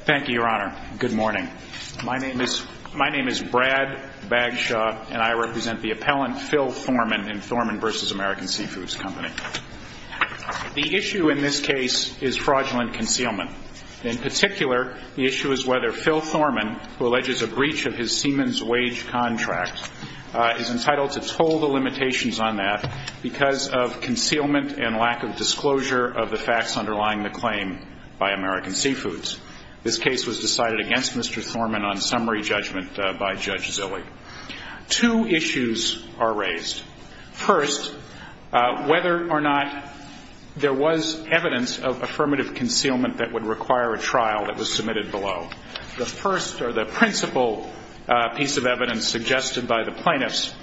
Thank you, Your Honor. Good morning. My name is Brad Bagshaw, and I represent the appellant Phil Thorman in Thorman v. American Seafoods Co. The issue in this case is fraudulent concealment. In particular, the issue is whether Phil Thorman, who alleges a breach of his seaman's wage contract, is entitled to toll the limitations on that because of concealment and lack of This case was decided against Mr. Thorman on summary judgment by Judge Zillig. Two issues are raised. First, whether or not there was evidence of affirmative concealment that would require a trial that was submitted below. The first or the principal piece of evidence suggested by the plaintiffs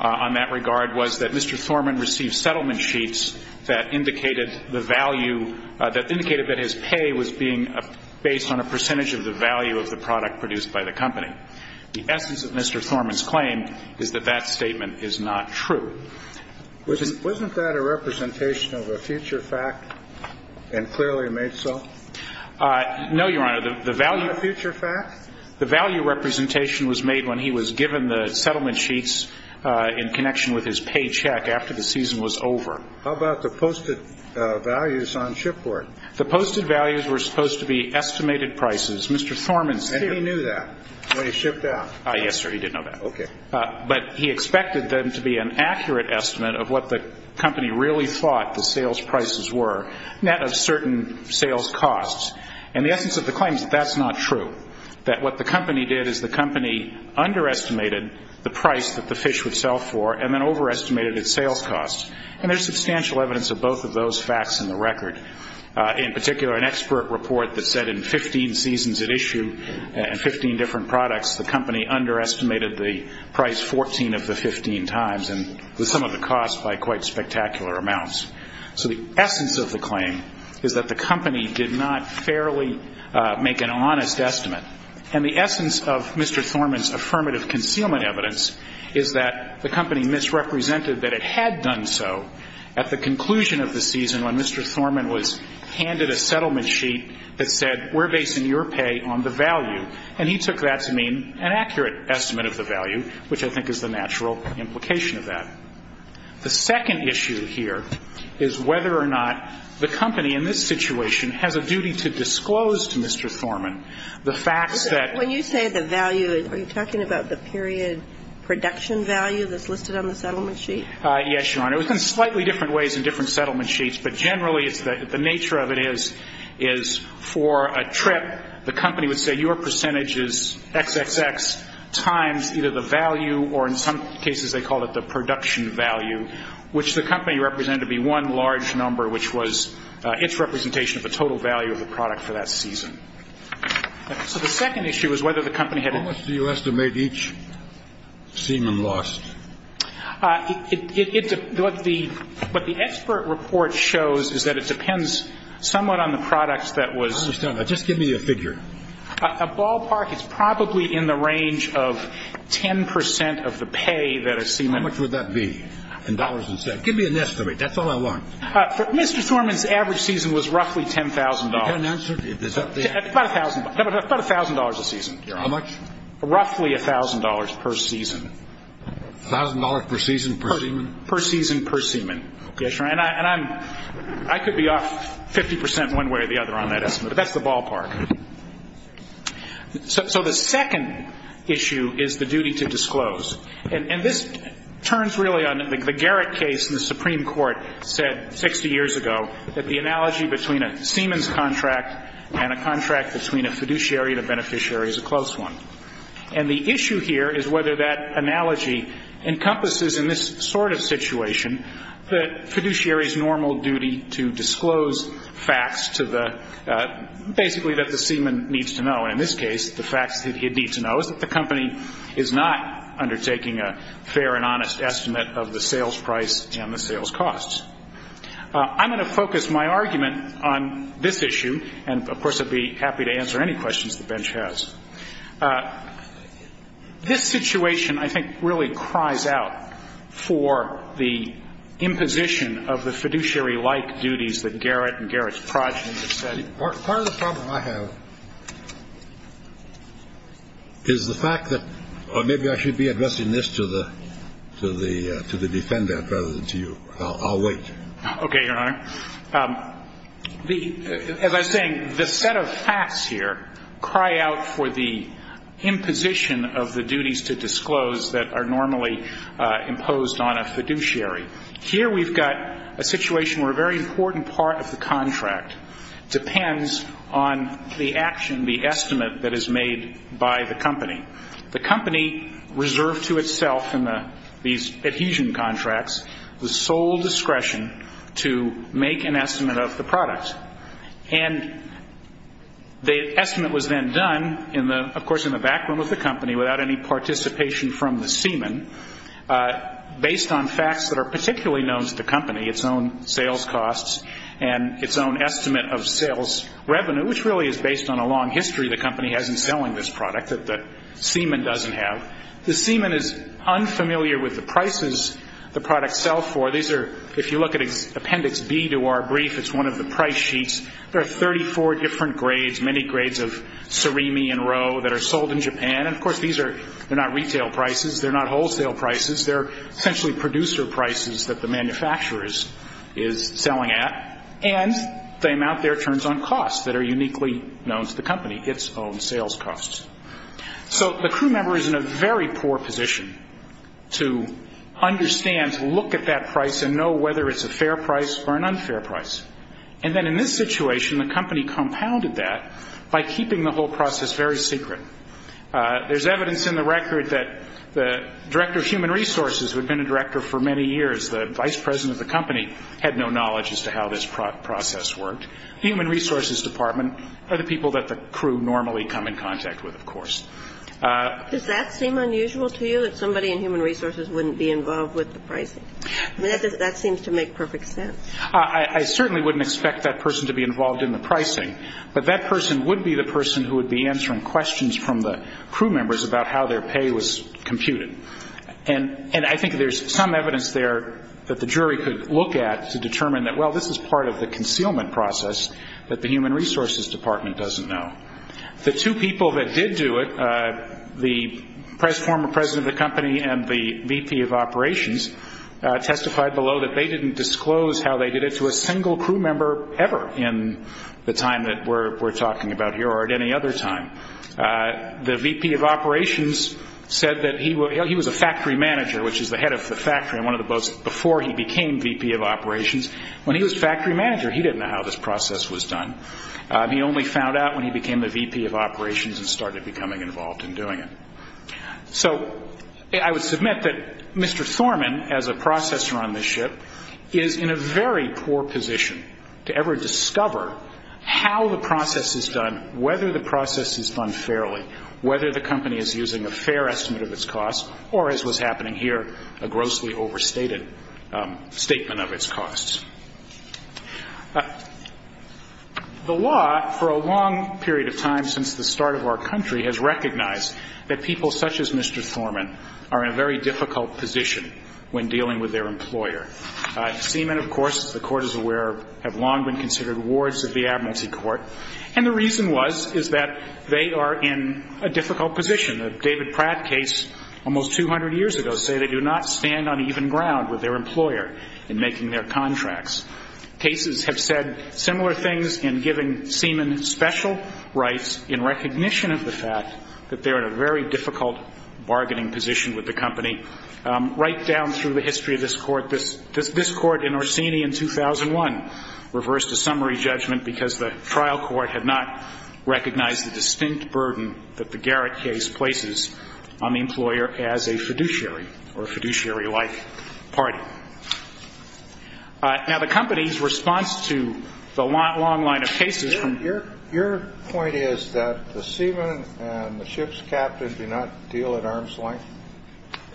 on that regard was that Mr. Thorman received settlement sheets that indicated that his pay was being appropriated based on a percentage of the value of the product produced by the company. The essence of Mr. Thorman's claim is that that statement is not true. Wasn't that a representation of a future fact and clearly made so? No, Your Honor. The value of the future fact? The value representation was made when he was given the settlement sheets in connection with his paycheck after the season was over. How about the posted values on shipboard? The posted values were supposed to be estimated prices. Mr. Thorman's shipboard. And he knew that when he shipped out? Yes, sir. He did know that. Okay. But he expected them to be an accurate estimate of what the company really thought the sales prices were, net of certain sales costs. And the essence of the claim is that that's not true, that what the company did is the company underestimated the price that the fish would sell for and then overestimated its sales costs. And there's substantial evidence of both of those facts in the record. In particular, an expert report that said in 15 seasons at issue and 15 different products, the company underestimated the price 14 of the 15 times and the sum of the costs by quite spectacular amounts. So the essence of the claim is that the company did not fairly make an honest estimate. And the essence of Mr. Thorman's affirmative concealment evidence is that the company misrepresented that it had done so at the conclusion of the season when Mr. Thorman was handed a settlement sheet that said, we're basing your pay on the value. And he took that to mean an accurate estimate of the value, which I think is the natural implication of that. The second issue here is whether or not the company in this situation has a duty to disclose to Mr. Thorman the facts that When you say the value, are you talking about the period production value that's listed on the settlement sheet? Yes, Your Honor. It was in slightly different ways in different settlement sheets. But generally, the nature of it is for a trip, the company would say your percentage is XXX times either the value or in some cases they called it the production value, which the company represented to be one large number, which was its representation of the total value of the product for that season. So the second issue is whether the company had a duty to disclose. Semen lost? What the expert report shows is that it depends somewhat on the products that was I understand that. Just give me a figure. A ballpark is probably in the range of 10% of the pay that a semen How much would that be in dollars and cents? Give me an estimate. That's all I want. Mr. Thorman's average season was roughly $10,000. You can't answer? About $1,000 a season. How much? Roughly $1,000 per season. $1,000 per season per semen? Per season per semen. I could be off 50% one way or the other on that estimate. But that's the ballpark. So the second issue is the duty to disclose. And this turns really on the Garrett case in the Supreme Court said 60 years ago that the analogy between a semen's contract and a contract between a fiduciary and a beneficiary is a close one. And the issue here is whether that analogy encompasses in this sort of situation the fiduciary's normal duty to disclose facts to the basically that the semen needs to know. And in this case, the facts that he'd need to know is that the company is not undertaking a fair and honest estimate of the sales price and the sales costs. I'm going to focus my argument on this issue. And, of course, I'd be happy to answer any questions the bench has. This situation, I think, really cries out for the imposition of the fiduciary-like duties that Garrett and Garrett's progeny have said. Part of the problem I have is the fact that or maybe I should be addressing this to the defendant rather than to you. I'll wait. Okay, Your Honor. As I was saying, the set of facts here cry out for the imposition of the duties to disclose that are normally imposed on a fiduciary. Here we've got a situation where a very important part of the contract depends on the action, the estimate that is made by the company. The company reserved to itself in these adhesion contracts the sole discretion to make an estimate of the product. And the estimate was then done, of course, in the back room of the company without any participation from the semen, based on facts that are particularly known to the company, its own sales costs and its own estimate of sales revenue, which really is based on a long history the company has in selling this product that the semen doesn't have. The semen is unfamiliar with the prices the products sell for. These are, if you look at Appendix B to our brief, it's one of the price sheets. There are 34 different grades, many grades of Serimi and Rowe that are sold in Japan. And, of course, these are not retail prices. They're not wholesale prices. They're essentially producer prices that the manufacturer is selling at. And the amount there turns on costs that are uniquely known to the company, its own sales costs. So the crew member is in a very poor position to understand, to look at that price and know whether it's a fair price or an unfair price. And then in this situation, the company compounded that by keeping the whole process very secret. There's evidence in the record that the director of human resources, who had been a director for many years, the vice president of the company, had no knowledge as to how this process worked. The human resources department are the people that the crew normally come in contact with, of course. Does that seem unusual to you, that somebody in human resources wouldn't be involved with the pricing? I mean, that seems to make perfect sense. I certainly wouldn't expect that person to be involved in the pricing, but that person would be the person who would be answering questions from the crew members about how their pay was computed. And I think there's some evidence there that the jury could look at to determine that, well, this is part of the concealment process that the human resources department doesn't know. The two people that did do it, the former president of the company and the VP of operations, testified below that they didn't disclose how they did it to a single crew member ever in the time that we're talking about here or at any other time. The VP of operations said that he was a factory manager, which is the head of the factory on one of the boats before he became VP of operations. When he was factory manager, he didn't know how this process was done. He only found out when he became the VP of operations and started becoming involved in doing it. So I would submit that Mr. Thorman, as a processor on this ship, is in a very poor position to ever discover how the process is done, whether the process is done fairly, whether the company is using a fair estimate of its costs, or as was happening here, a grossly overstated statement of its costs. The law, for a long period of time since the start of our country, has recognized that people such as Mr. Thorman are in a very difficult position when dealing with their employer. Siemen, of course, as the Court is aware, have long been considered wards of the advocacy court, and the reason was is that they are in a difficult position. The David Pratt case almost 200 years ago said they do not stand on even ground with their employer in making their contracts. Cases have said similar things in giving Siemen special rights in recognition of the fact that they're in a very difficult bargaining position with the company. Right down through the history of this Court, this Court in Orsini in 2001 reversed a summary judgment because the trial court had not recognized the distinct burden that the Garrett case places on the employer as a fiduciary or a fiduciary-like party. Now, the company's response to the long line of cases from here ñ The Siemen and the ship's captain do not deal at arm's length?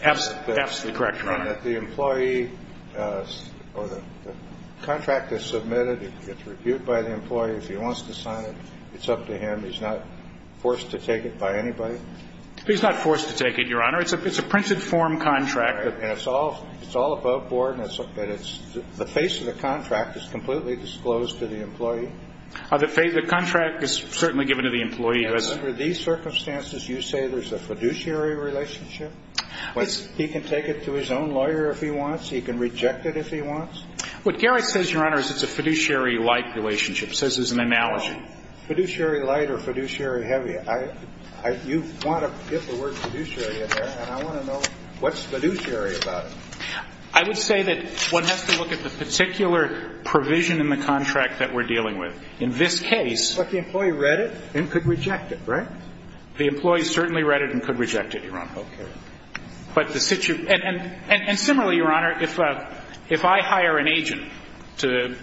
Absolutely correct, Your Honor. And that the employee or the contract is submitted, it's reviewed by the employee, if he wants to sign it, it's up to him, he's not forced to take it by anybody? He's not forced to take it, Your Honor. It's a printed form contract. And it's all above board, and the face of the contract is completely disclosed to the employee? The contract is certainly given to the employee. And under these circumstances, you say there's a fiduciary relationship? He can take it to his own lawyer if he wants? He can reject it if he wants? What Garrett says, Your Honor, is it's a fiduciary-like relationship. He says there's an analogy. Fiduciary-like or fiduciary-heavy? You want to get the word fiduciary in there, and I want to know what's fiduciary about it? I would say that one has to look at the particular provision in the contract that we're dealing with. In this case the employee read it and could reject it, right? The employee certainly read it and could reject it, Your Honor. Okay. And similarly, Your Honor, if I hire an agent to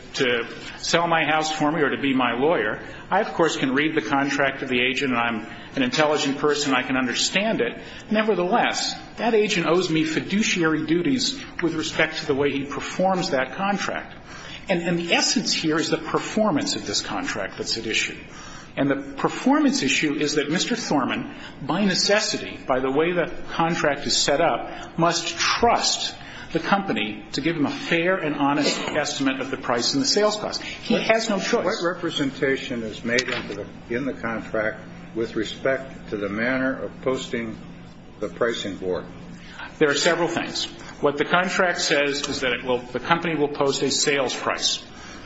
sell my house for me or to be my lawyer, I, of course, can read the contract of the agent, and I'm an intelligent person, I can understand it. But nevertheless, that agent owes me fiduciary duties with respect to the way he performs that contract. And the essence here is the performance of this contract that's at issue. And the performance issue is that Mr. Thorman, by necessity, by the way the contract is set up, must trust the company to give him a fair and honest estimate of the price and the sales cost. He has no choice. And what representation is made in the contract with respect to the manner of posting the pricing board? There are several things. What the contract says is that the company will post a sales price.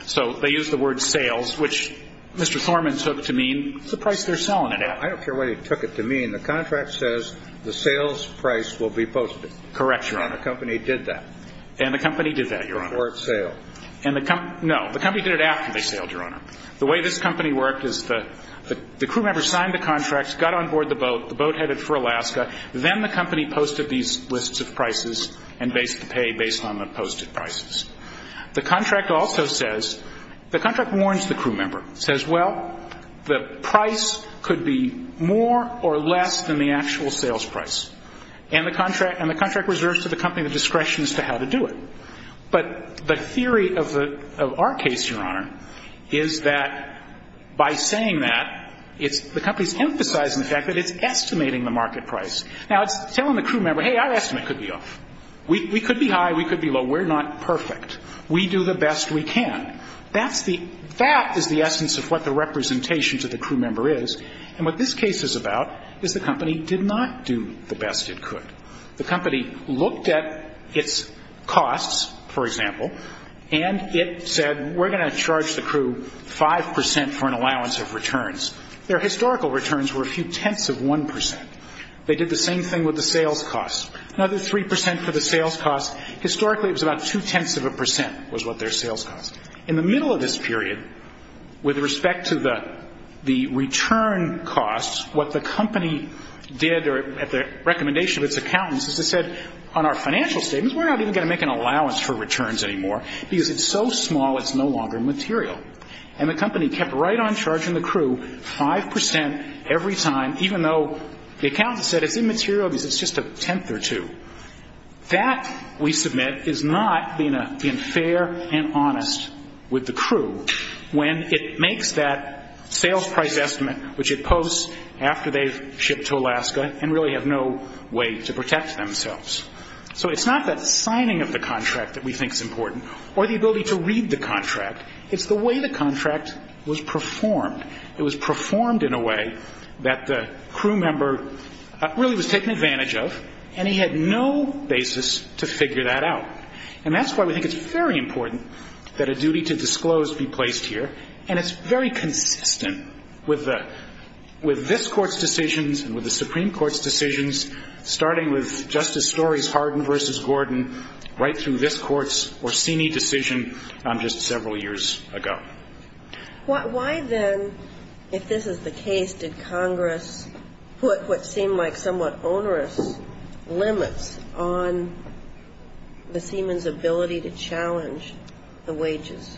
So they use the word sales, which Mr. Thorman took to mean the price they're selling it at. I don't care what he took it to mean. The contract says the sales price will be posted. Correct, Your Honor. And the company did that. And the company did that, Your Honor. Before it sailed. No, the company did it after they sailed, Your Honor. The way this company worked is the crew member signed the contracts, got on board the boat, the boat headed for Alaska, then the company posted these lists of prices and based the pay based on the posted prices. The contract also says, the contract warns the crew member, says, well, the price could be more or less than the actual sales price. And the contract reserves to the company the discretion as to how to do it. But the theory of our case, Your Honor, is that by saying that, the company's emphasizing the fact that it's estimating the market price. Now, it's telling the crew member, hey, our estimate could be off. We could be high. We could be low. We're not perfect. We do the best we can. That is the essence of what the representation to the crew member is. And what this case is about is the company did not do the best it could. The company looked at its costs, for example, and it said, we're going to charge the crew 5% for an allowance of returns. Their historical returns were a few tenths of 1%. They did the same thing with the sales costs. Another 3% for the sales costs. Historically, it was about two-tenths of a percent was what their sales cost. In the middle of this period, with respect to the return costs, what the company did at the recommendation of its accountants is it said, on our financial statements, we're not even going to make an allowance for returns anymore because it's so small it's no longer material. And the company kept right on charging the crew 5% every time, even though the accountants said it's immaterial because it's just a tenth or two. That, we submit, is not being fair and honest with the crew when it makes that sales price estimate, which it posts after they've shipped to Alaska and really have no way to protect themselves. So it's not that signing of the contract that we think is important or the ability to read the contract. It's the way the contract was performed. It was performed in a way that the crew member really was taken advantage of, and he had no basis to figure that out. And that's why we think it's very important that a duty to disclose be placed here, and it's very consistent with this Court's decisions and with the Supreme Court's decisions, starting with Justice Story's Hardin v. Gordon right through this Court's Orsini decision just several years ago. Why then, if this is the case, did Congress put what seemed like somewhat onerous limits on the seaman's ability to challenge the wages?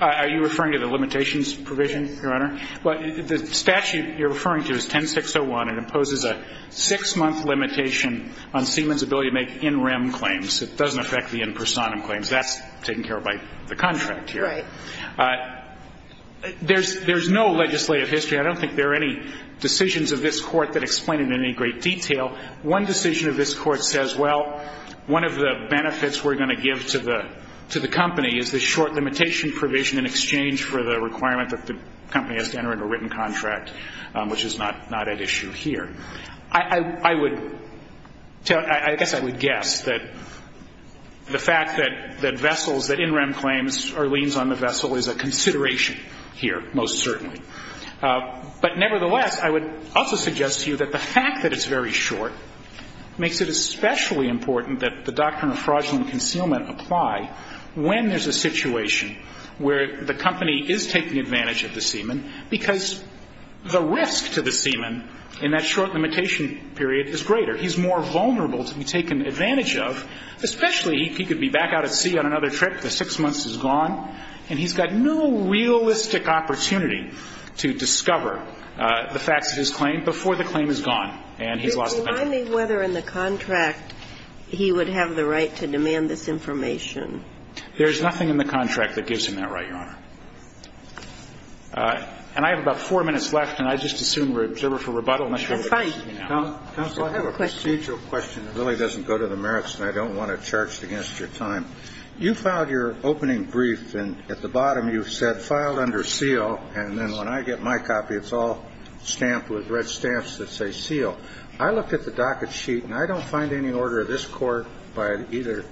Are you referring to the limitations provision, Your Honor? Well, the statute you're referring to is 10601. It imposes a six-month limitation on seaman's ability to make in rem claims. It doesn't affect the in personam claims. That's taken care of by the contract here. Right. There's no legislative history. I don't think there are any decisions of this Court that explain it in any great detail. One decision of this Court says, well, one of the benefits we're going to give to the company is this short limitation provision in exchange for the requirement that the company has to enter into a written contract, which is not at issue here. I guess I would guess that the fact that vessels, that in rem claims, are liens on the vessel is a consideration here, most certainly. But nevertheless, I would also suggest to you that the fact that it's very short makes it especially important that the doctrine of fraudulent concealment apply when there's a situation where the company is taking advantage of the seaman because the risk to the seaman in that short limitation period is greater. He's more vulnerable to be taken advantage of, especially if he could be back out at sea on another trip, the six months is gone, and he's got no realistic opportunity to discover the facts of his claim before the claim is gone and he's lost the benefit. So I'm wondering whether in the contract he would have the right to demand this information. There's nothing in the contract that gives him that right, Your Honor. And I have about 4 minutes left, and I just assume we're observed for rebuttal. That's fine. Counsel, I have a procedural question that really doesn't go to the merits, and I don't want to charge against your time. You filed your opening brief, and at the bottom you said, filed under seal, and then when I get my copy, it's all stamped with red stamps that say seal. I looked at the docket sheet, and I don't find any order of this Court by either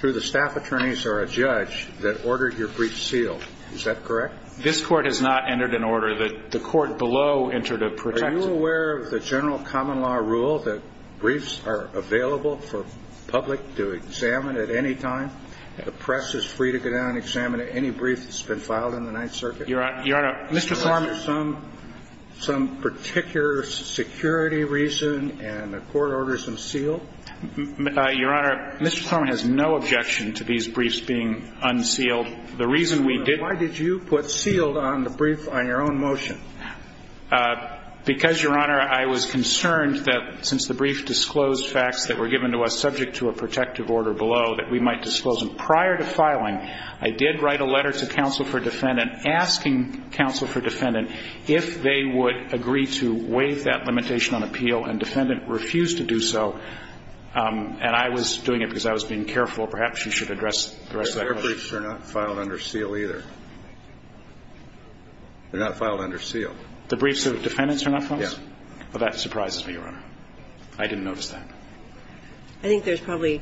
through the staff attorneys or a judge that ordered your brief sealed. Is that correct? This Court has not entered an order. The Court below entered a protective. Are you aware of the general common law rule that briefs are available for public to examine at any time? The press is free to go down and examine any brief that's been filed in the Ninth Circuit. Your Honor, Mr. Foreman. Do you have some particular security reason, and the Court orders them sealed? Your Honor, Mr. Foreman has no objection to these briefs being unsealed. The reason we did Why did you put sealed on the brief on your own motion? Because, Your Honor, I was concerned that since the brief disclosed facts that were given to us subject to a protective order below, that we might disclose them. Prior to filing, I did write a letter to counsel for defendant asking counsel for clarification if they would agree to waive that limitation on appeal and defendant refused to do so. And I was doing it because I was being careful. Perhaps you should address the rest of that question. Their briefs are not filed under seal either. They're not filed under seal. The briefs of defendants are not filed? Yes. Well, that surprises me, Your Honor. I didn't notice that. I think there's probably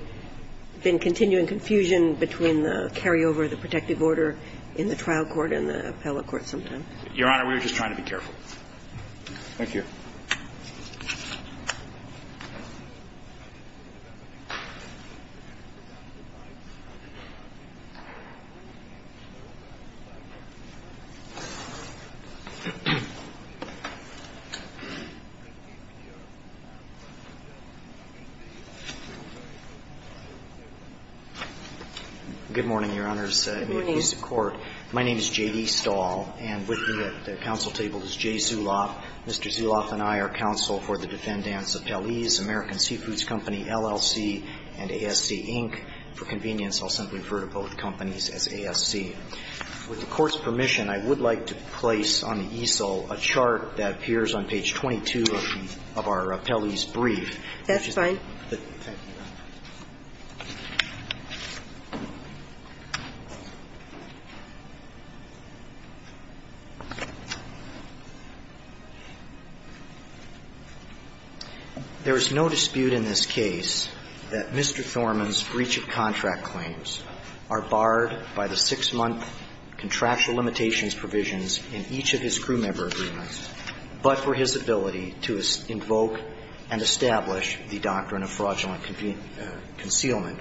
been continuing confusion between the carryover of the protective order in the trial court and the appellate court sometimes. Your Honor, we were just trying to be careful. Thank you. Good morning, Your Honors. Good morning. My name is J.D. Stahl. And with me at the counsel table is Jay Zuloff. Mr. Zuloff and I are counsel for the defendants Appellees, American Seafoods Company, LLC, and ASC, Inc. For convenience, I'll simply refer to both companies as ASC. With the Court's permission, I would like to place on the ESL a chart that appears on page 22 of our appellees' brief. That's fine. Thank you, Your Honor. There is no dispute in this case that Mr. Thorman's breach of contract claims are barred by the six-month contractual limitations provisions in each of his crewmember agreements, but for his ability to invoke and establish the doctrine of fraudulent concealment.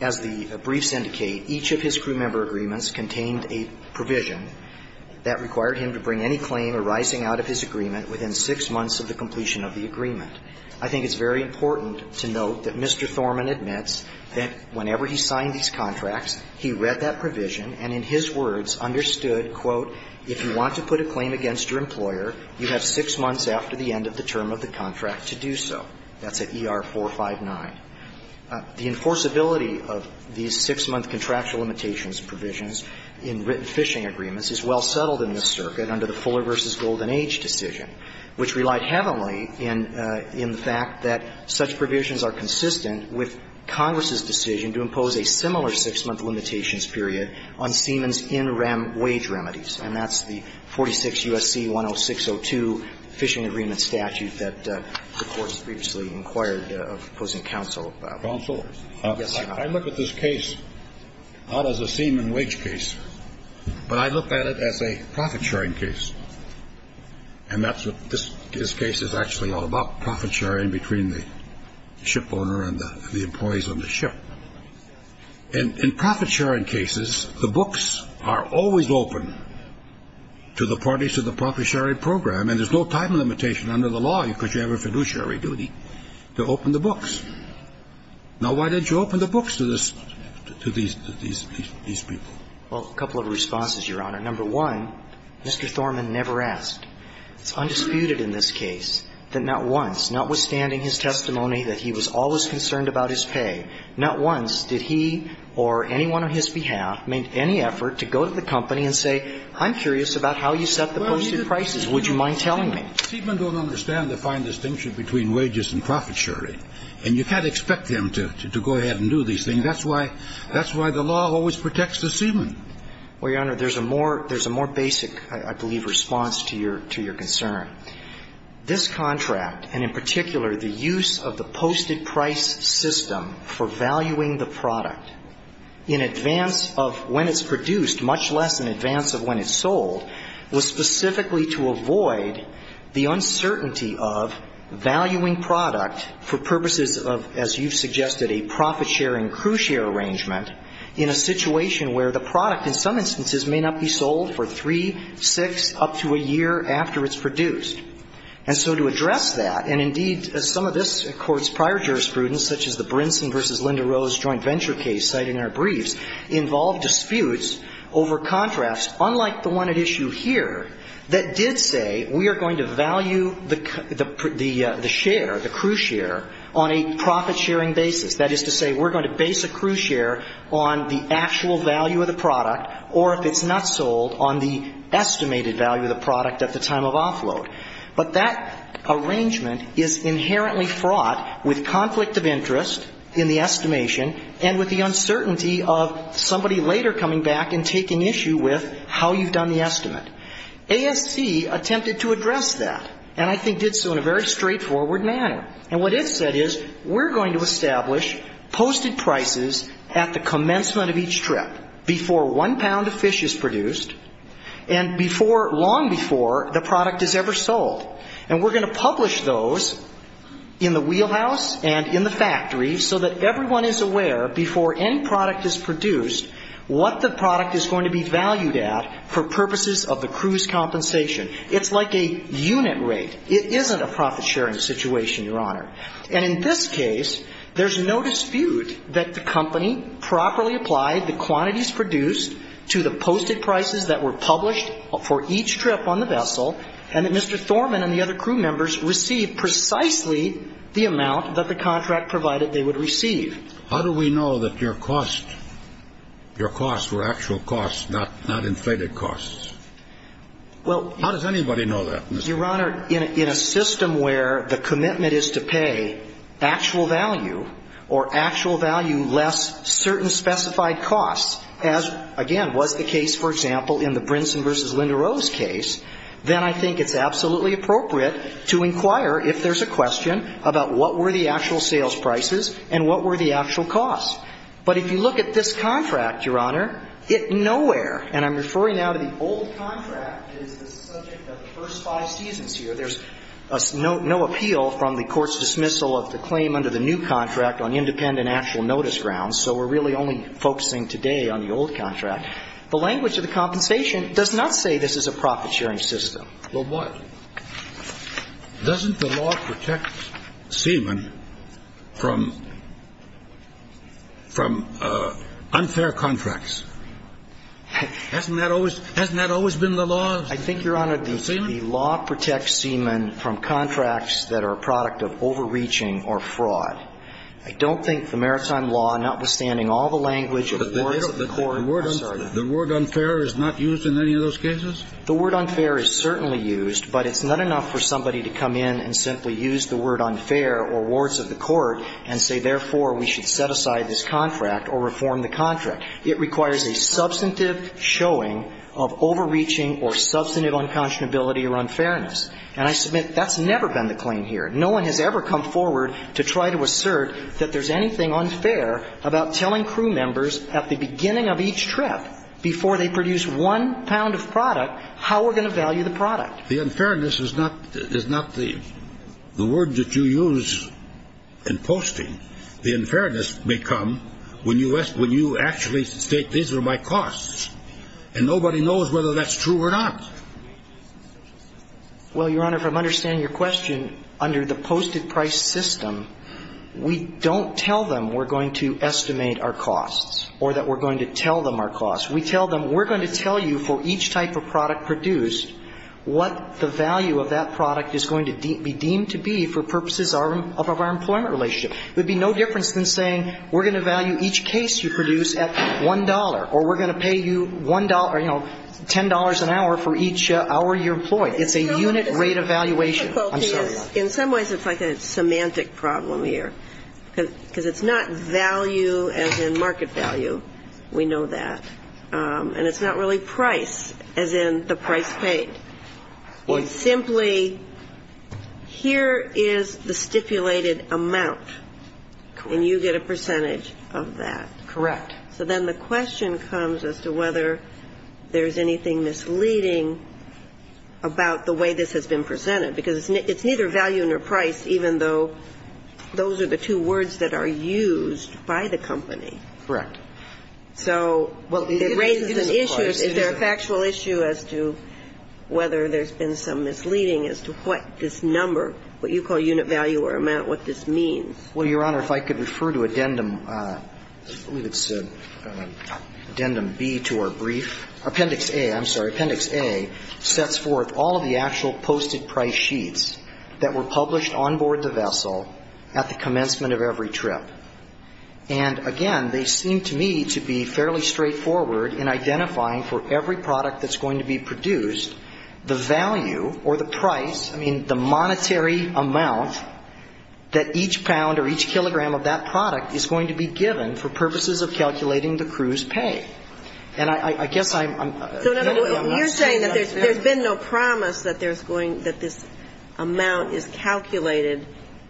As the briefs indicate, each of his crewmember agreements contained a provision that required him to bring any claim arising out of his agreement within six months of the completion of the agreement. I think it's very important to note that Mr. Thorman admits that whenever he signed these contracts, he read that provision and in his words understood, quote, if you want to put a claim against your employer, you have six months after the end of the term of the contract to do so. That's at ER 459. The enforceability of these six-month contractual limitations provisions in written fishing agreements is well settled in this circuit under the Fuller v. Golden Age decision, which relied heavily in the fact that such provisions are consistent with Congress's decision to impose a similar six-month limitations period on Siemens in rem wage remedies, and that's the 46 U.S.C. 10602 Fishing Agreement Statute that the Court's previously inquired of opposing counsel about. Counsel. Yes, Your Honor. I look at this case not as a Siemen wage case, but I look at it as a profit-sharing case, and that's what this case is actually all about, profit-sharing between the shipowner and the employees on the ship. In profit-sharing cases, the books are always open to the parties to the profit-sharing program, and there's no time limitation under the law because you have a fiduciary duty to open the books. Now, why didn't you open the books to this to these people? Well, a couple of responses, Your Honor. Number one, Mr. Thorman never asked. It's undisputed in this case that not once, notwithstanding his testimony that he was always concerned about his pay, not once did he or anyone on his behalf make any effort to go to the company and say, I'm curious about how you set the posted prices. Would you mind telling me? Siemen don't understand the fine distinction between wages and profit-sharing, and you can't expect them to go ahead and do these things. That's why the law always protects the Siemen. Well, Your Honor, there's a more basic, I believe, response to your concern. This contract, and in particular the use of the posted price system for valuing the product in advance of when it's produced, much less in advance of when it's sold, was specifically to avoid the uncertainty of valuing product for purposes of, as you've suggested, a profit-sharing crew-share arrangement in a situation where the product in some instances may not be sold for three, six, up to a year after it's produced. And so to address that, and indeed some of this Court's prior jurisprudence, such as the Brinson v. Linda Rose joint venture case cited in our briefs, involved disputes over contracts, unlike the one at issue here, that did say we are going to value the share, the crew-share, on a profit-sharing basis. That is to say, we're going to base a crew-share on the actual value of the product, or if it's not sold, on the estimated value of the product at the time of offload. But that arrangement is inherently fraught with conflict of interest in the estimation, and with the uncertainty of somebody later coming back and taking issue with how you've done the estimate. ASC attempted to address that, and I think did so in a very straightforward manner. And what it said is, we're going to establish posted prices at the commencement of each trip, before one pound of fish is produced, and before, long before the product is ever sold. And we're going to publish those in the wheelhouse and in the factory, so that everyone is aware, before any product is produced, what the product is going to be valued at for purposes of the crew's compensation. It's like a unit rate. It isn't a profit-sharing situation, Your Honor. And in this case, there's no dispute that the company properly applied the quantity produced to the posted prices that were published for each trip on the vessel, and that Mr. Thorman and the other crew members received precisely the amount that the contract provided they would receive. How do we know that your costs were actual costs, not inflated costs? How does anybody know that, Mr. Thorman? Your Honor, in a system where the commitment is to pay actual value, or actual value less certain specified costs, as, again, was the case, for example, in the Brinson v. Linda Rose case, then I think it's absolutely appropriate to inquire, if there's a question, about what were the actual sales prices and what were the actual costs. But if you look at this contract, Your Honor, it nowhere, and I'm referring now to the old contract, is the subject of the first five seasons here. There's no appeal from the court's dismissal of the claim under the new contract on independent actual notice grounds. So we're really only focusing today on the old contract. The language of the compensation does not say this is a profit-sharing system. Well, why? Doesn't the law protect seamen from unfair contracts? Hasn't that always been the law? I think, Your Honor, the law protects seamen from contracts that are a product of overreaching or fraud. I don't think the maritime law, notwithstanding all the language of the courts of the court, has said that. The word unfair is not used in any of those cases? The word unfair is certainly used, but it's not enough for somebody to come in and simply use the word unfair or wards of the court and say, therefore, we should set aside this contract or reform the contract. It requires a substantive showing of overreaching or substantive unconscionability or unfairness. And I submit that's never been the claim here. No one has ever come forward to try to assert that there's anything unfair about telling crew members at the beginning of each trip, before they produce one pound of product, how we're going to value the product. The unfairness is not the word that you use in posting. The unfairness may come when you actually state these are my costs. And nobody knows whether that's true or not. Well, Your Honor, if I'm understanding your question, under the posted price system, we don't tell them we're going to estimate our costs or that we're going to tell them our costs. We tell them we're going to tell you for each type of product produced what the value of that product is going to be deemed to be for purposes of our employment relationship. It would be no difference than saying we're going to value each case you produce at $1 or we're going to pay you $1 or, you know, $10 an hour for each hour you're employed. It's a unit rate of valuation. I'm sorry. In some ways it's like a semantic problem here, because it's not value as in market value. We know that. And it's not really price as in the price paid. It's simply here is the stipulated amount and you get a percentage of that. Correct. So then the question comes as to whether there's anything misleading about the way this has been presented, because it's neither value nor price, even though those are the two words that are used by the company. Correct. So it raises an issue. Is there a factual issue as to whether there's been some misleading as to what this number, what you call unit value or amount, what this means? Well, Your Honor, if I could refer to addendum B to our brief. Appendix A, I'm sorry. Appendix A sets forth all of the actual posted price sheets that were published on board the vessel at the commencement of every trip. And, again, they seem to me to be fairly straightforward in identifying for every product that's going to be produced the value or the price, I mean, the monetary amount that each pound or each kilogram of that product is going to be given for purposes of calculating the crew's pay. And I guess I'm not saying that there's been no promise that there's going, that this amount is calculated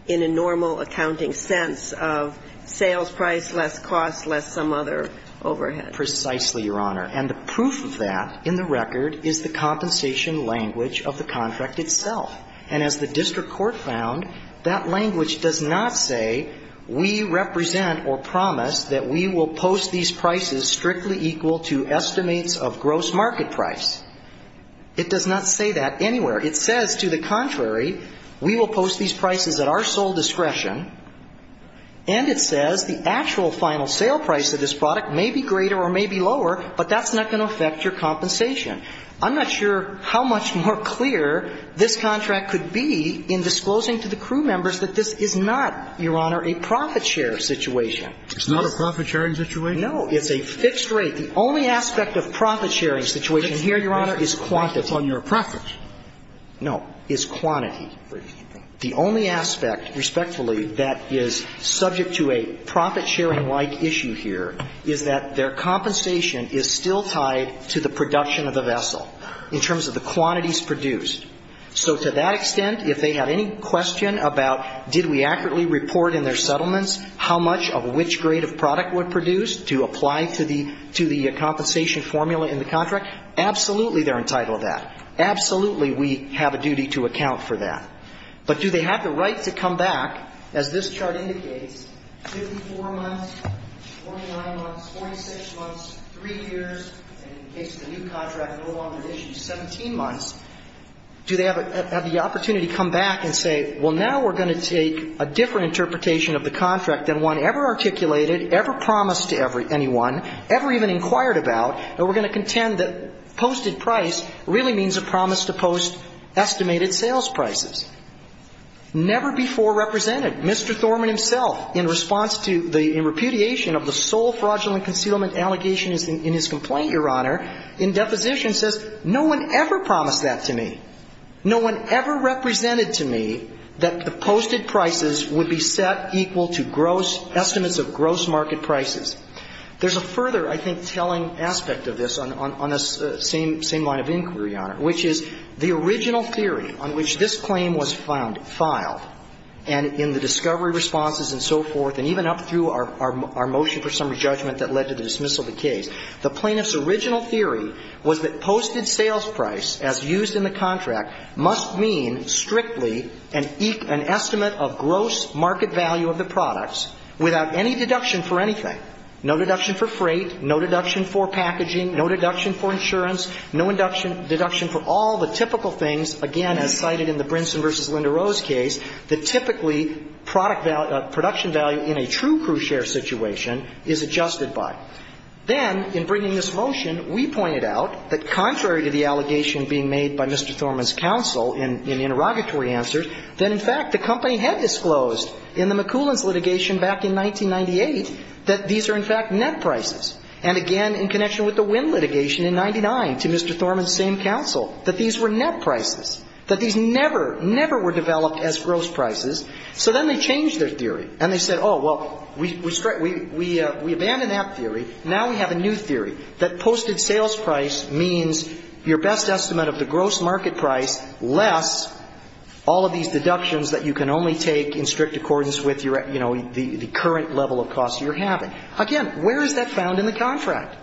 in a normal accounting sense of sales price, less cost, less some other overhead. Precisely, Your Honor. And the proof of that in the record is the compensation language of the contract itself. And as the district court found, that language does not say we represent or promise that we will post these prices strictly equal to estimates of gross market price. It does not say that anywhere. It says, to the contrary, we will post these prices at our sole discretion. And it says the actual final sale price of this product may be greater or may be lower, but that's not going to affect your compensation. I'm not sure how much more clear this contract could be in disclosing to the crew members that this is not, Your Honor, a profit share situation. It's not a profit sharing situation? No. It's a fixed rate. The only aspect of profit sharing situation here, Your Honor, is quantity. So it's on your preference. No. It's quantity. The only aspect, respectfully, that is subject to a profit sharing-like issue here is that their compensation is still tied to the production of the vessel in terms of the quantities produced. So to that extent, if they had any question about did we accurately report in their settlements how much of which grade of product would produce to apply to the compensation formula in the contract, absolutely they're entitled to that. Absolutely we have a duty to account for that. But do they have the right to come back, as this chart indicates, 54 months, 49 months, 46 months, three years, and in the case of the new contract, no longer than 17 months, do they have the opportunity to come back and say, well, now we're going to take a different interpretation of the contract than one ever articulated, ever promised to anyone, ever even inquired about, and we're going to contend that posted price really means a promise to post estimated sales prices. Never before represented. Mr. Thorman himself, in response to the repudiation of the sole fraudulent concealment allegation in his complaint, Your Honor, in deposition says, no one ever promised that to me. No one ever represented to me that the posted prices would be set equal to gross market prices. There's a further, I think, telling aspect of this on the same line of inquiry, Your Honor, which is the original theory on which this claim was found, filed, and in the discovery responses and so forth, and even up through our motion for summary judgment that led to the dismissal of the case, the plaintiff's original theory was that posted sales price, as used in the contract, must mean strictly an estimate of gross market value of the products without any deduction for anything, no deduction for freight, no deduction for packaging, no deduction for insurance, no deduction for all the typical things, again, as cited in the Brinson v. Linda Rose case, that typically product value, production value in a true crew share situation is adjusted by. Then, in bringing this motion, we pointed out that contrary to the allegation being made by Mr. Thorman's counsel in the interrogatory answers, that, in fact, the company had disclosed in the McCoolins litigation back in 1998 that these are, in fact, net prices. And, again, in connection with the Wynn litigation in 1999 to Mr. Thorman's same counsel, that these were net prices, that these never, never were developed as gross prices. So then they changed their theory, and they said, oh, well, we abandoned that theory. Now we have a new theory, that posted sales price means your best estimate of the gross market price less all of these deductions that you can only take in strict accordance with your, you know, the current level of costs you're having. Again, where is that found in the contract?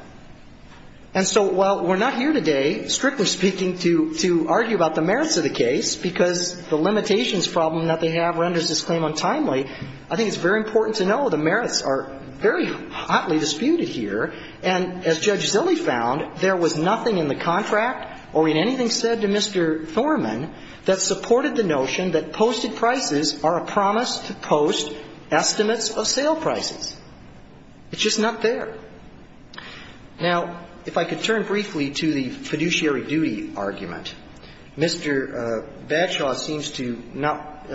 And so while we're not here today, strictly speaking, to argue about the merits of the case, because the limitations problem that they have renders this claim untimely, I think it's very important to know the merits are very hotly disputed here. And as Judge Zille found, there was nothing in the contract or in anything said to Mr. Thorman that supported the notion that posted prices are a promise to post estimates of sale prices. It's just not there. Now, if I could turn briefly to the fiduciary duty argument. Mr. Badshaw seems to not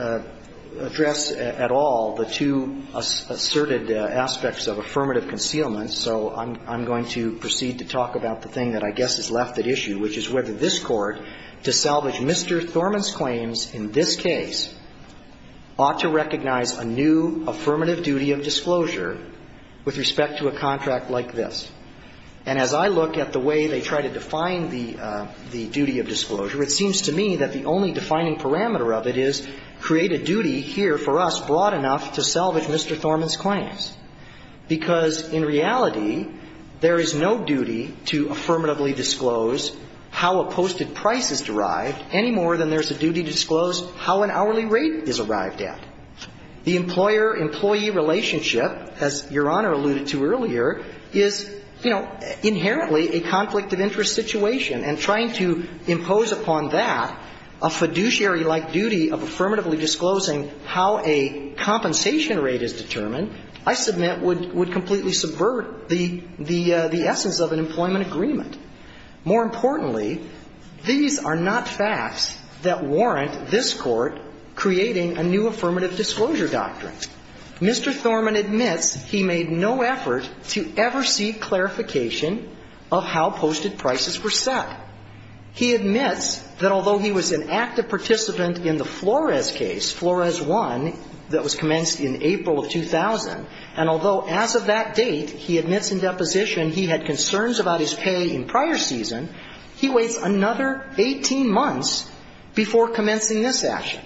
address at all the two asserted aspects of affirmative concealment, so I'm going to proceed to talk about the thing that I guess is left at issue, which is whether this Court, to salvage Mr. Thorman's claims in this case, ought to recognize a new affirmative duty of disclosure with respect to a contract like this. And as I look at the way they try to define the duty of disclosure, it seems to me that the only defining parameter of it is create a duty here for us broad enough to salvage Mr. Thorman's claims, because in reality, there is no duty to affirmatively disclose how a posted price is derived any more than there's a duty to disclose how an hourly rate is arrived at. The employer-employee relationship, as Your Honor alluded to earlier, is, you know, inherently a conflict of interest situation. And trying to impose upon that a fiduciary-like duty of affirmatively disclosing how a compensation rate is determined, I submit, would completely subvert the essence of an employment agreement. More importantly, these are not facts that warrant this Court creating a new affirmative duty of disclosure doctrine. Mr. Thorman admits he made no effort to ever seek clarification of how posted prices were set. He admits that although he was an active participant in the Flores case, Flores 1, that was commenced in April of 2000, and although as of that date, he admits in deposition he had concerns about his pay in prior season, he waits another 18 months before commencing this action.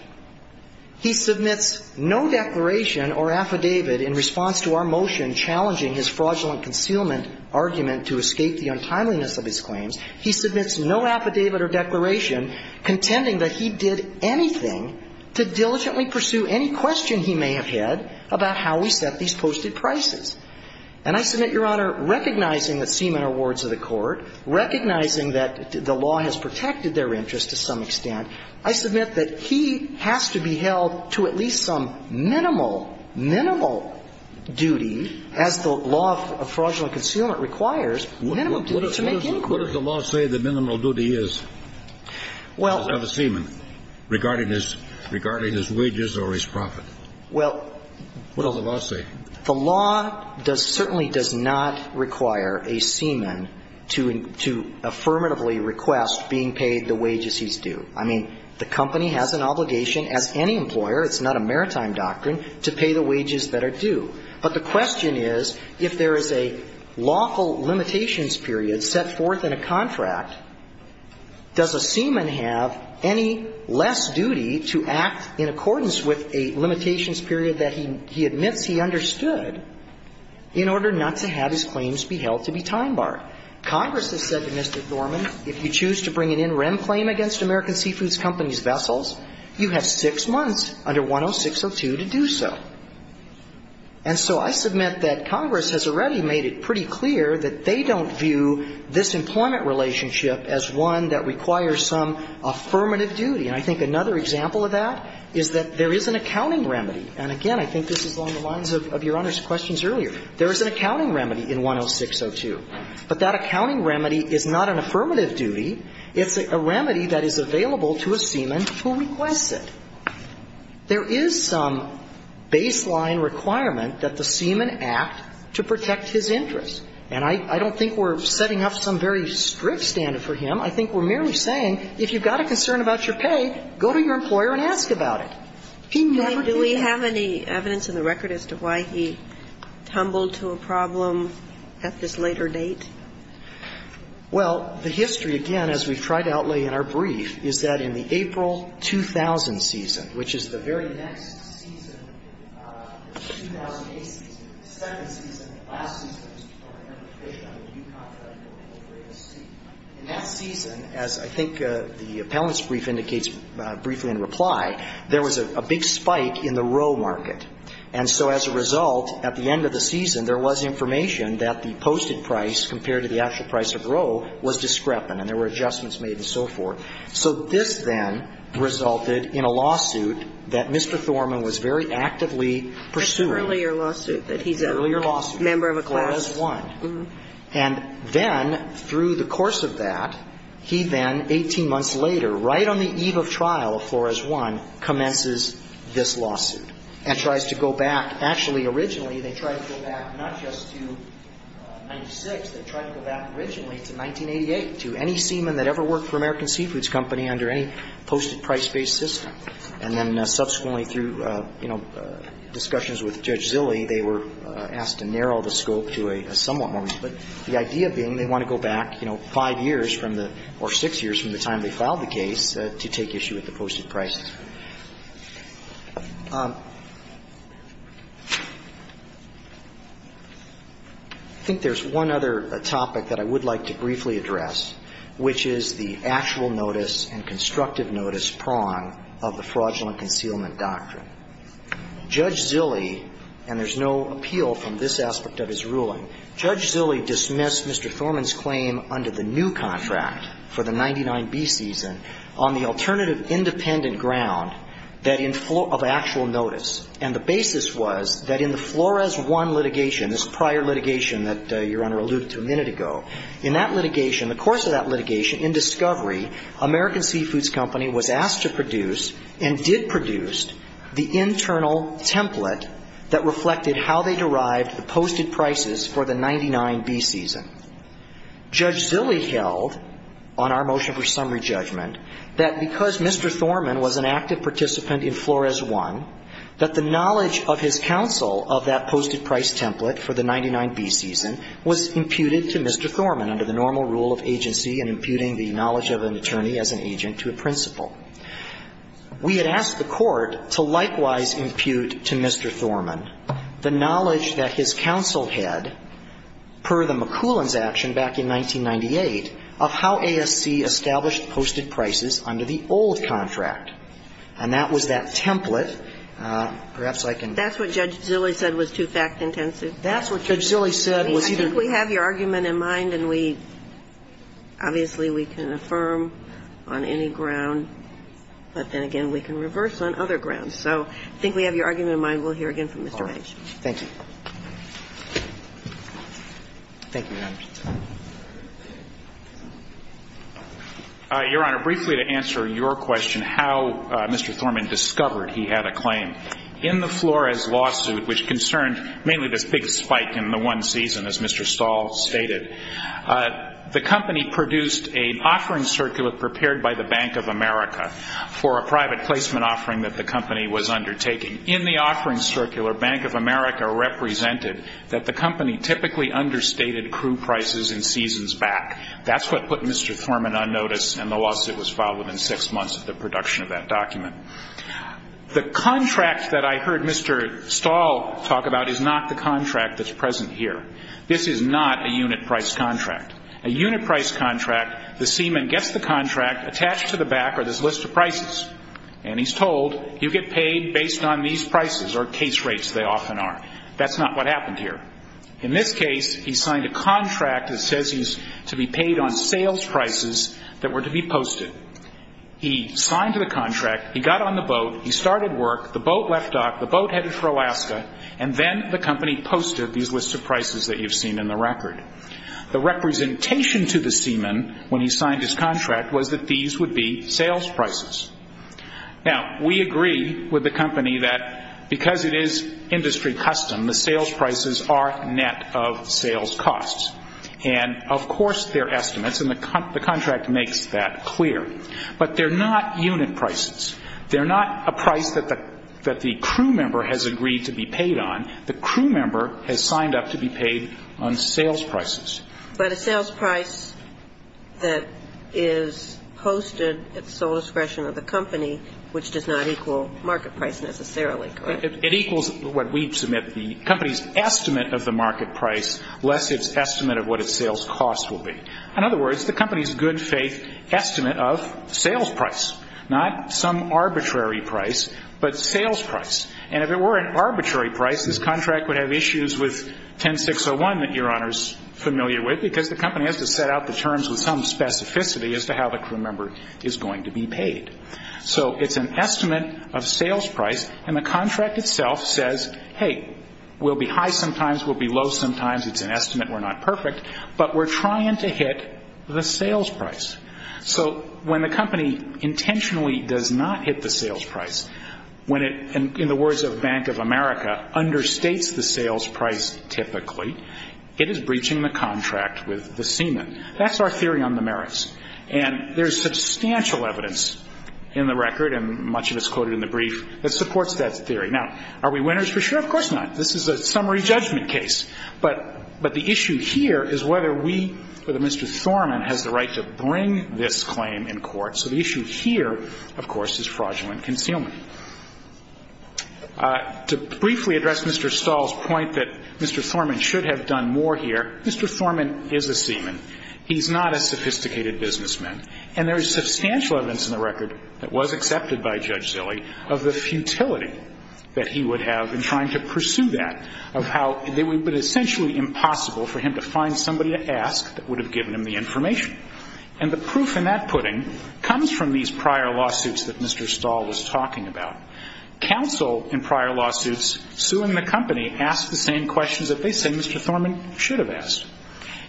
He submits no declaration or affidavit in response to our motion challenging his fraudulent concealment argument to escape the untimeliness of his claims. He submits no affidavit or declaration contending that he did anything to diligently pursue any question he may have had about how we set these posted prices. And I submit, Your Honor, recognizing that semen are wards of the Court, recognizing that the law has protected their interests to some extent, I submit that he has to be held to at least some minimal, minimal duty, as the law of fraudulent concealment requires, minimum duty to make inquiries. What does the law say the minimal duty is of a semen regarding his wages or his profit? What does the law say? The law certainly does not require a semen to affirmatively request being paid the wages he's due. I mean, the company has an obligation as any employer, it's not a maritime doctrine, to pay the wages that are due. But the question is, if there is a lawful limitations period set forth in a contract, does a semen have any less duty to act in accordance with a limitations period that he admits he understood in order not to have his claims be held to be time-barred? Congress has said to Mr. Thorman, if you choose to bring an interim claim against American Seafood Company's vessels, you have six months under 10602 to do so. And so I submit that Congress has already made it pretty clear that they don't view this employment relationship as one that requires some affirmative duty. And I think another example of that is that there is an accounting remedy. And again, I think this is along the lines of Your Honor's questions earlier. There is an accounting remedy in 10602. But that accounting remedy is not an affirmative duty. It's a remedy that is available to a semen who requests it. There is some baseline requirement that the semen act to protect his interests. And I don't think we're setting up some very strict standard for him. I think we're merely saying, if you've got a concern about your pay, go to your employer and ask about it. He never did. Do we have any evidence in the record as to why he tumbled to a problem at this later date? Well, the history, again, as we've tried to outlay in our brief, is that in the April 2000 season, which is the very next season, 2008 season, the second season, the last season, in that season, as I think the appellant's brief indicates briefly in reply, there was a big spike in the row market. And so as a result, at the end of the season, there was information that the posted price compared to the actual price of row was discrepant, and there were adjustments made and so forth. So this then resulted in a lawsuit that Mr. Thorman was very actively pursuing. An earlier lawsuit that he's a member of a class. An earlier lawsuit, Flores 1. And then, through the course of that, he then, 18 months later, right on the eve of trial of Flores 1, commences this lawsuit and tries to go back. Actually, originally, they tried to go back not just to 1996, they tried to go back originally to 1988, to any seaman that ever worked for American Seafoods Company under any posted price-based system. And then subsequently, through, you know, discussions with Judge Zille, they were asked to narrow the scope to a somewhat more, but the idea being they want to go back, you know, five years from the, or six years from the time they filed the case to take issue with the posted price. I think there's one other topic that I would like to briefly address, which is the actual notice and constructive notice prong of the fraudulent concealment doctrine. Judge Zille, and there's no appeal from this aspect of his ruling, Judge Zille dismissed Mr. Thorman's claim under the new contract for the 99B season on the alternative independent ground that in, of actual notice. And the basis was that in the Flores 1 litigation, this prior litigation that Your Honor alluded to a minute ago, in that litigation, the course of that litigation, in discovery, American Seafoods Company was asked to produce and did produce the internal template that reflected how they derived the posted prices for the 99B season. Judge Zille held on our motion for summary judgment that because Mr. Thorman was an active participant in Flores 1, that the knowledge of his counsel of that posted price template for the 99B season was imputed to Mr. Thorman under the normal rule of agency and imputing the knowledge of an attorney as an agent to a principal. We had asked the Court to likewise impute to Mr. Thorman the knowledge that his counsel had, per the McCoolin's action back in 1998, of how ASC established posted prices under the old contract. And that was that template. Perhaps I can ---- That's what Judge Zille said was too fact-intensive? That's what Judge Zille said was either ---- I think we have your argument in mind, and we ---- obviously, we can affirm on any ground, but then again, we can reverse on other grounds. So I think we have your argument in mind. We'll hear again from Mr. H. Thank you. Thank you, Your Honor. Your Honor, briefly to answer your question, how Mr. Thorman discovered he had a claim. In the Flores lawsuit, which concerned mainly this big spike in the one season, as Mr. Stahl stated, the company produced an offering circular prepared by the Bank of America for a private placement offering that the company was undertaking. In the offering circular, Bank of America represented that the company typically understated crew prices in seasons back. That's what put Mr. Thorman on notice, and the lawsuit was filed within six months of the production of that document. The contract that I heard Mr. Stahl talk about is not the contract that's present here. This is not a unit price contract. A unit price contract, the seaman gets the contract attached to the back of this list of prices, and he's told, you get paid based on these prices, or case rates they often are. That's not what happened here. In this case, he signed a contract that says he's to be paid on sales prices that were to be posted. He signed the contract, he got on the boat, he started work, the boat left dock, the boat headed for Alaska, and then the company posted these lists of prices that you've seen in the record. The representation to the seaman when he signed his contract was that these would be sales prices. Now, we agree with the company that because it is industry custom, the sales prices are net of sales costs. And, of course, they're estimates, and the contract makes that clear. But they're not unit prices. They're not a price that the crew member has agreed to be paid on. The crew member has signed up to be paid on sales prices. But a sales price that is posted at the sole discretion of the company, which does not equal market price necessarily, correct? It equals what we submit, the company's estimate of the market price, less its estimate of what its sales cost will be. In other words, the company's good faith estimate of sales price, not some arbitrary price, but sales price. And if it were an arbitrary price, this contract would have issues with 10601 that Your Honor's familiar with, because the company has to set out the terms with some specificity as to how the crew member is going to be paid. So it's an estimate of sales price, and the contract itself says, hey, we'll be high sometimes, we'll be low sometimes. It's an estimate. We're not perfect. But we're trying to hit the sales price. So when the company intentionally does not hit the sales price, when it, in the words of Bank of America, understates the sales price typically, it is breaching the contract with the seaman. That's our theory on the merits. And there's substantial evidence in the record, and much of it's quoted in the brief, that supports that theory. Now, are we winners for sure? Of course not. This is a summary judgment case. But the issue here is whether we, whether Mr. Thorman, has the right to bring this claim in court. So the issue here, of course, is fraudulent concealment. To briefly address Mr. Stahl's point that Mr. Thorman should have done more here, Mr. Thorman is a seaman. He's not a sophisticated businessman. And there is substantial evidence in the record that was accepted by Judge Zille of the futility that he would have in trying to pursue that, of how it would have been essentially impossible for him to find somebody to ask that would have given him the information. And the proof in that pudding comes from these prior lawsuits that Mr. Stahl was talking about. Counsel in prior lawsuits suing the company asked the same questions that they said Mr. Thorman should have asked.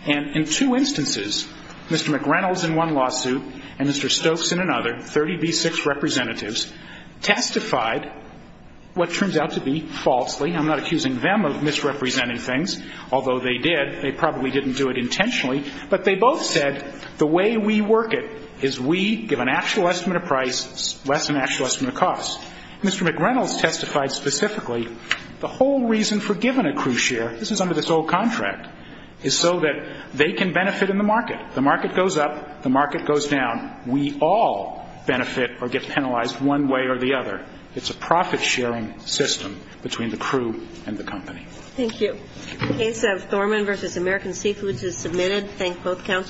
And in two instances, Mr. McReynolds in one lawsuit and Mr. Stokes in another, 30B6 representatives, testified what turns out to be falsely. I'm not accusing them of misrepresenting things, although they did. They probably didn't do it intentionally. But they both said the way we work it is we give an actual estimate of price less than an actual estimate of cost. Mr. McReynolds testified specifically the whole reason for giving a crew share, this is under this old contract, is so that they can benefit in the market. The market goes up. The market goes down. We all benefit or get penalized one way or the other. It's a profit sharing system between the crew and the company. Thank you. The case of Thorman v. American Seafoods is submitted. Thank both counsel.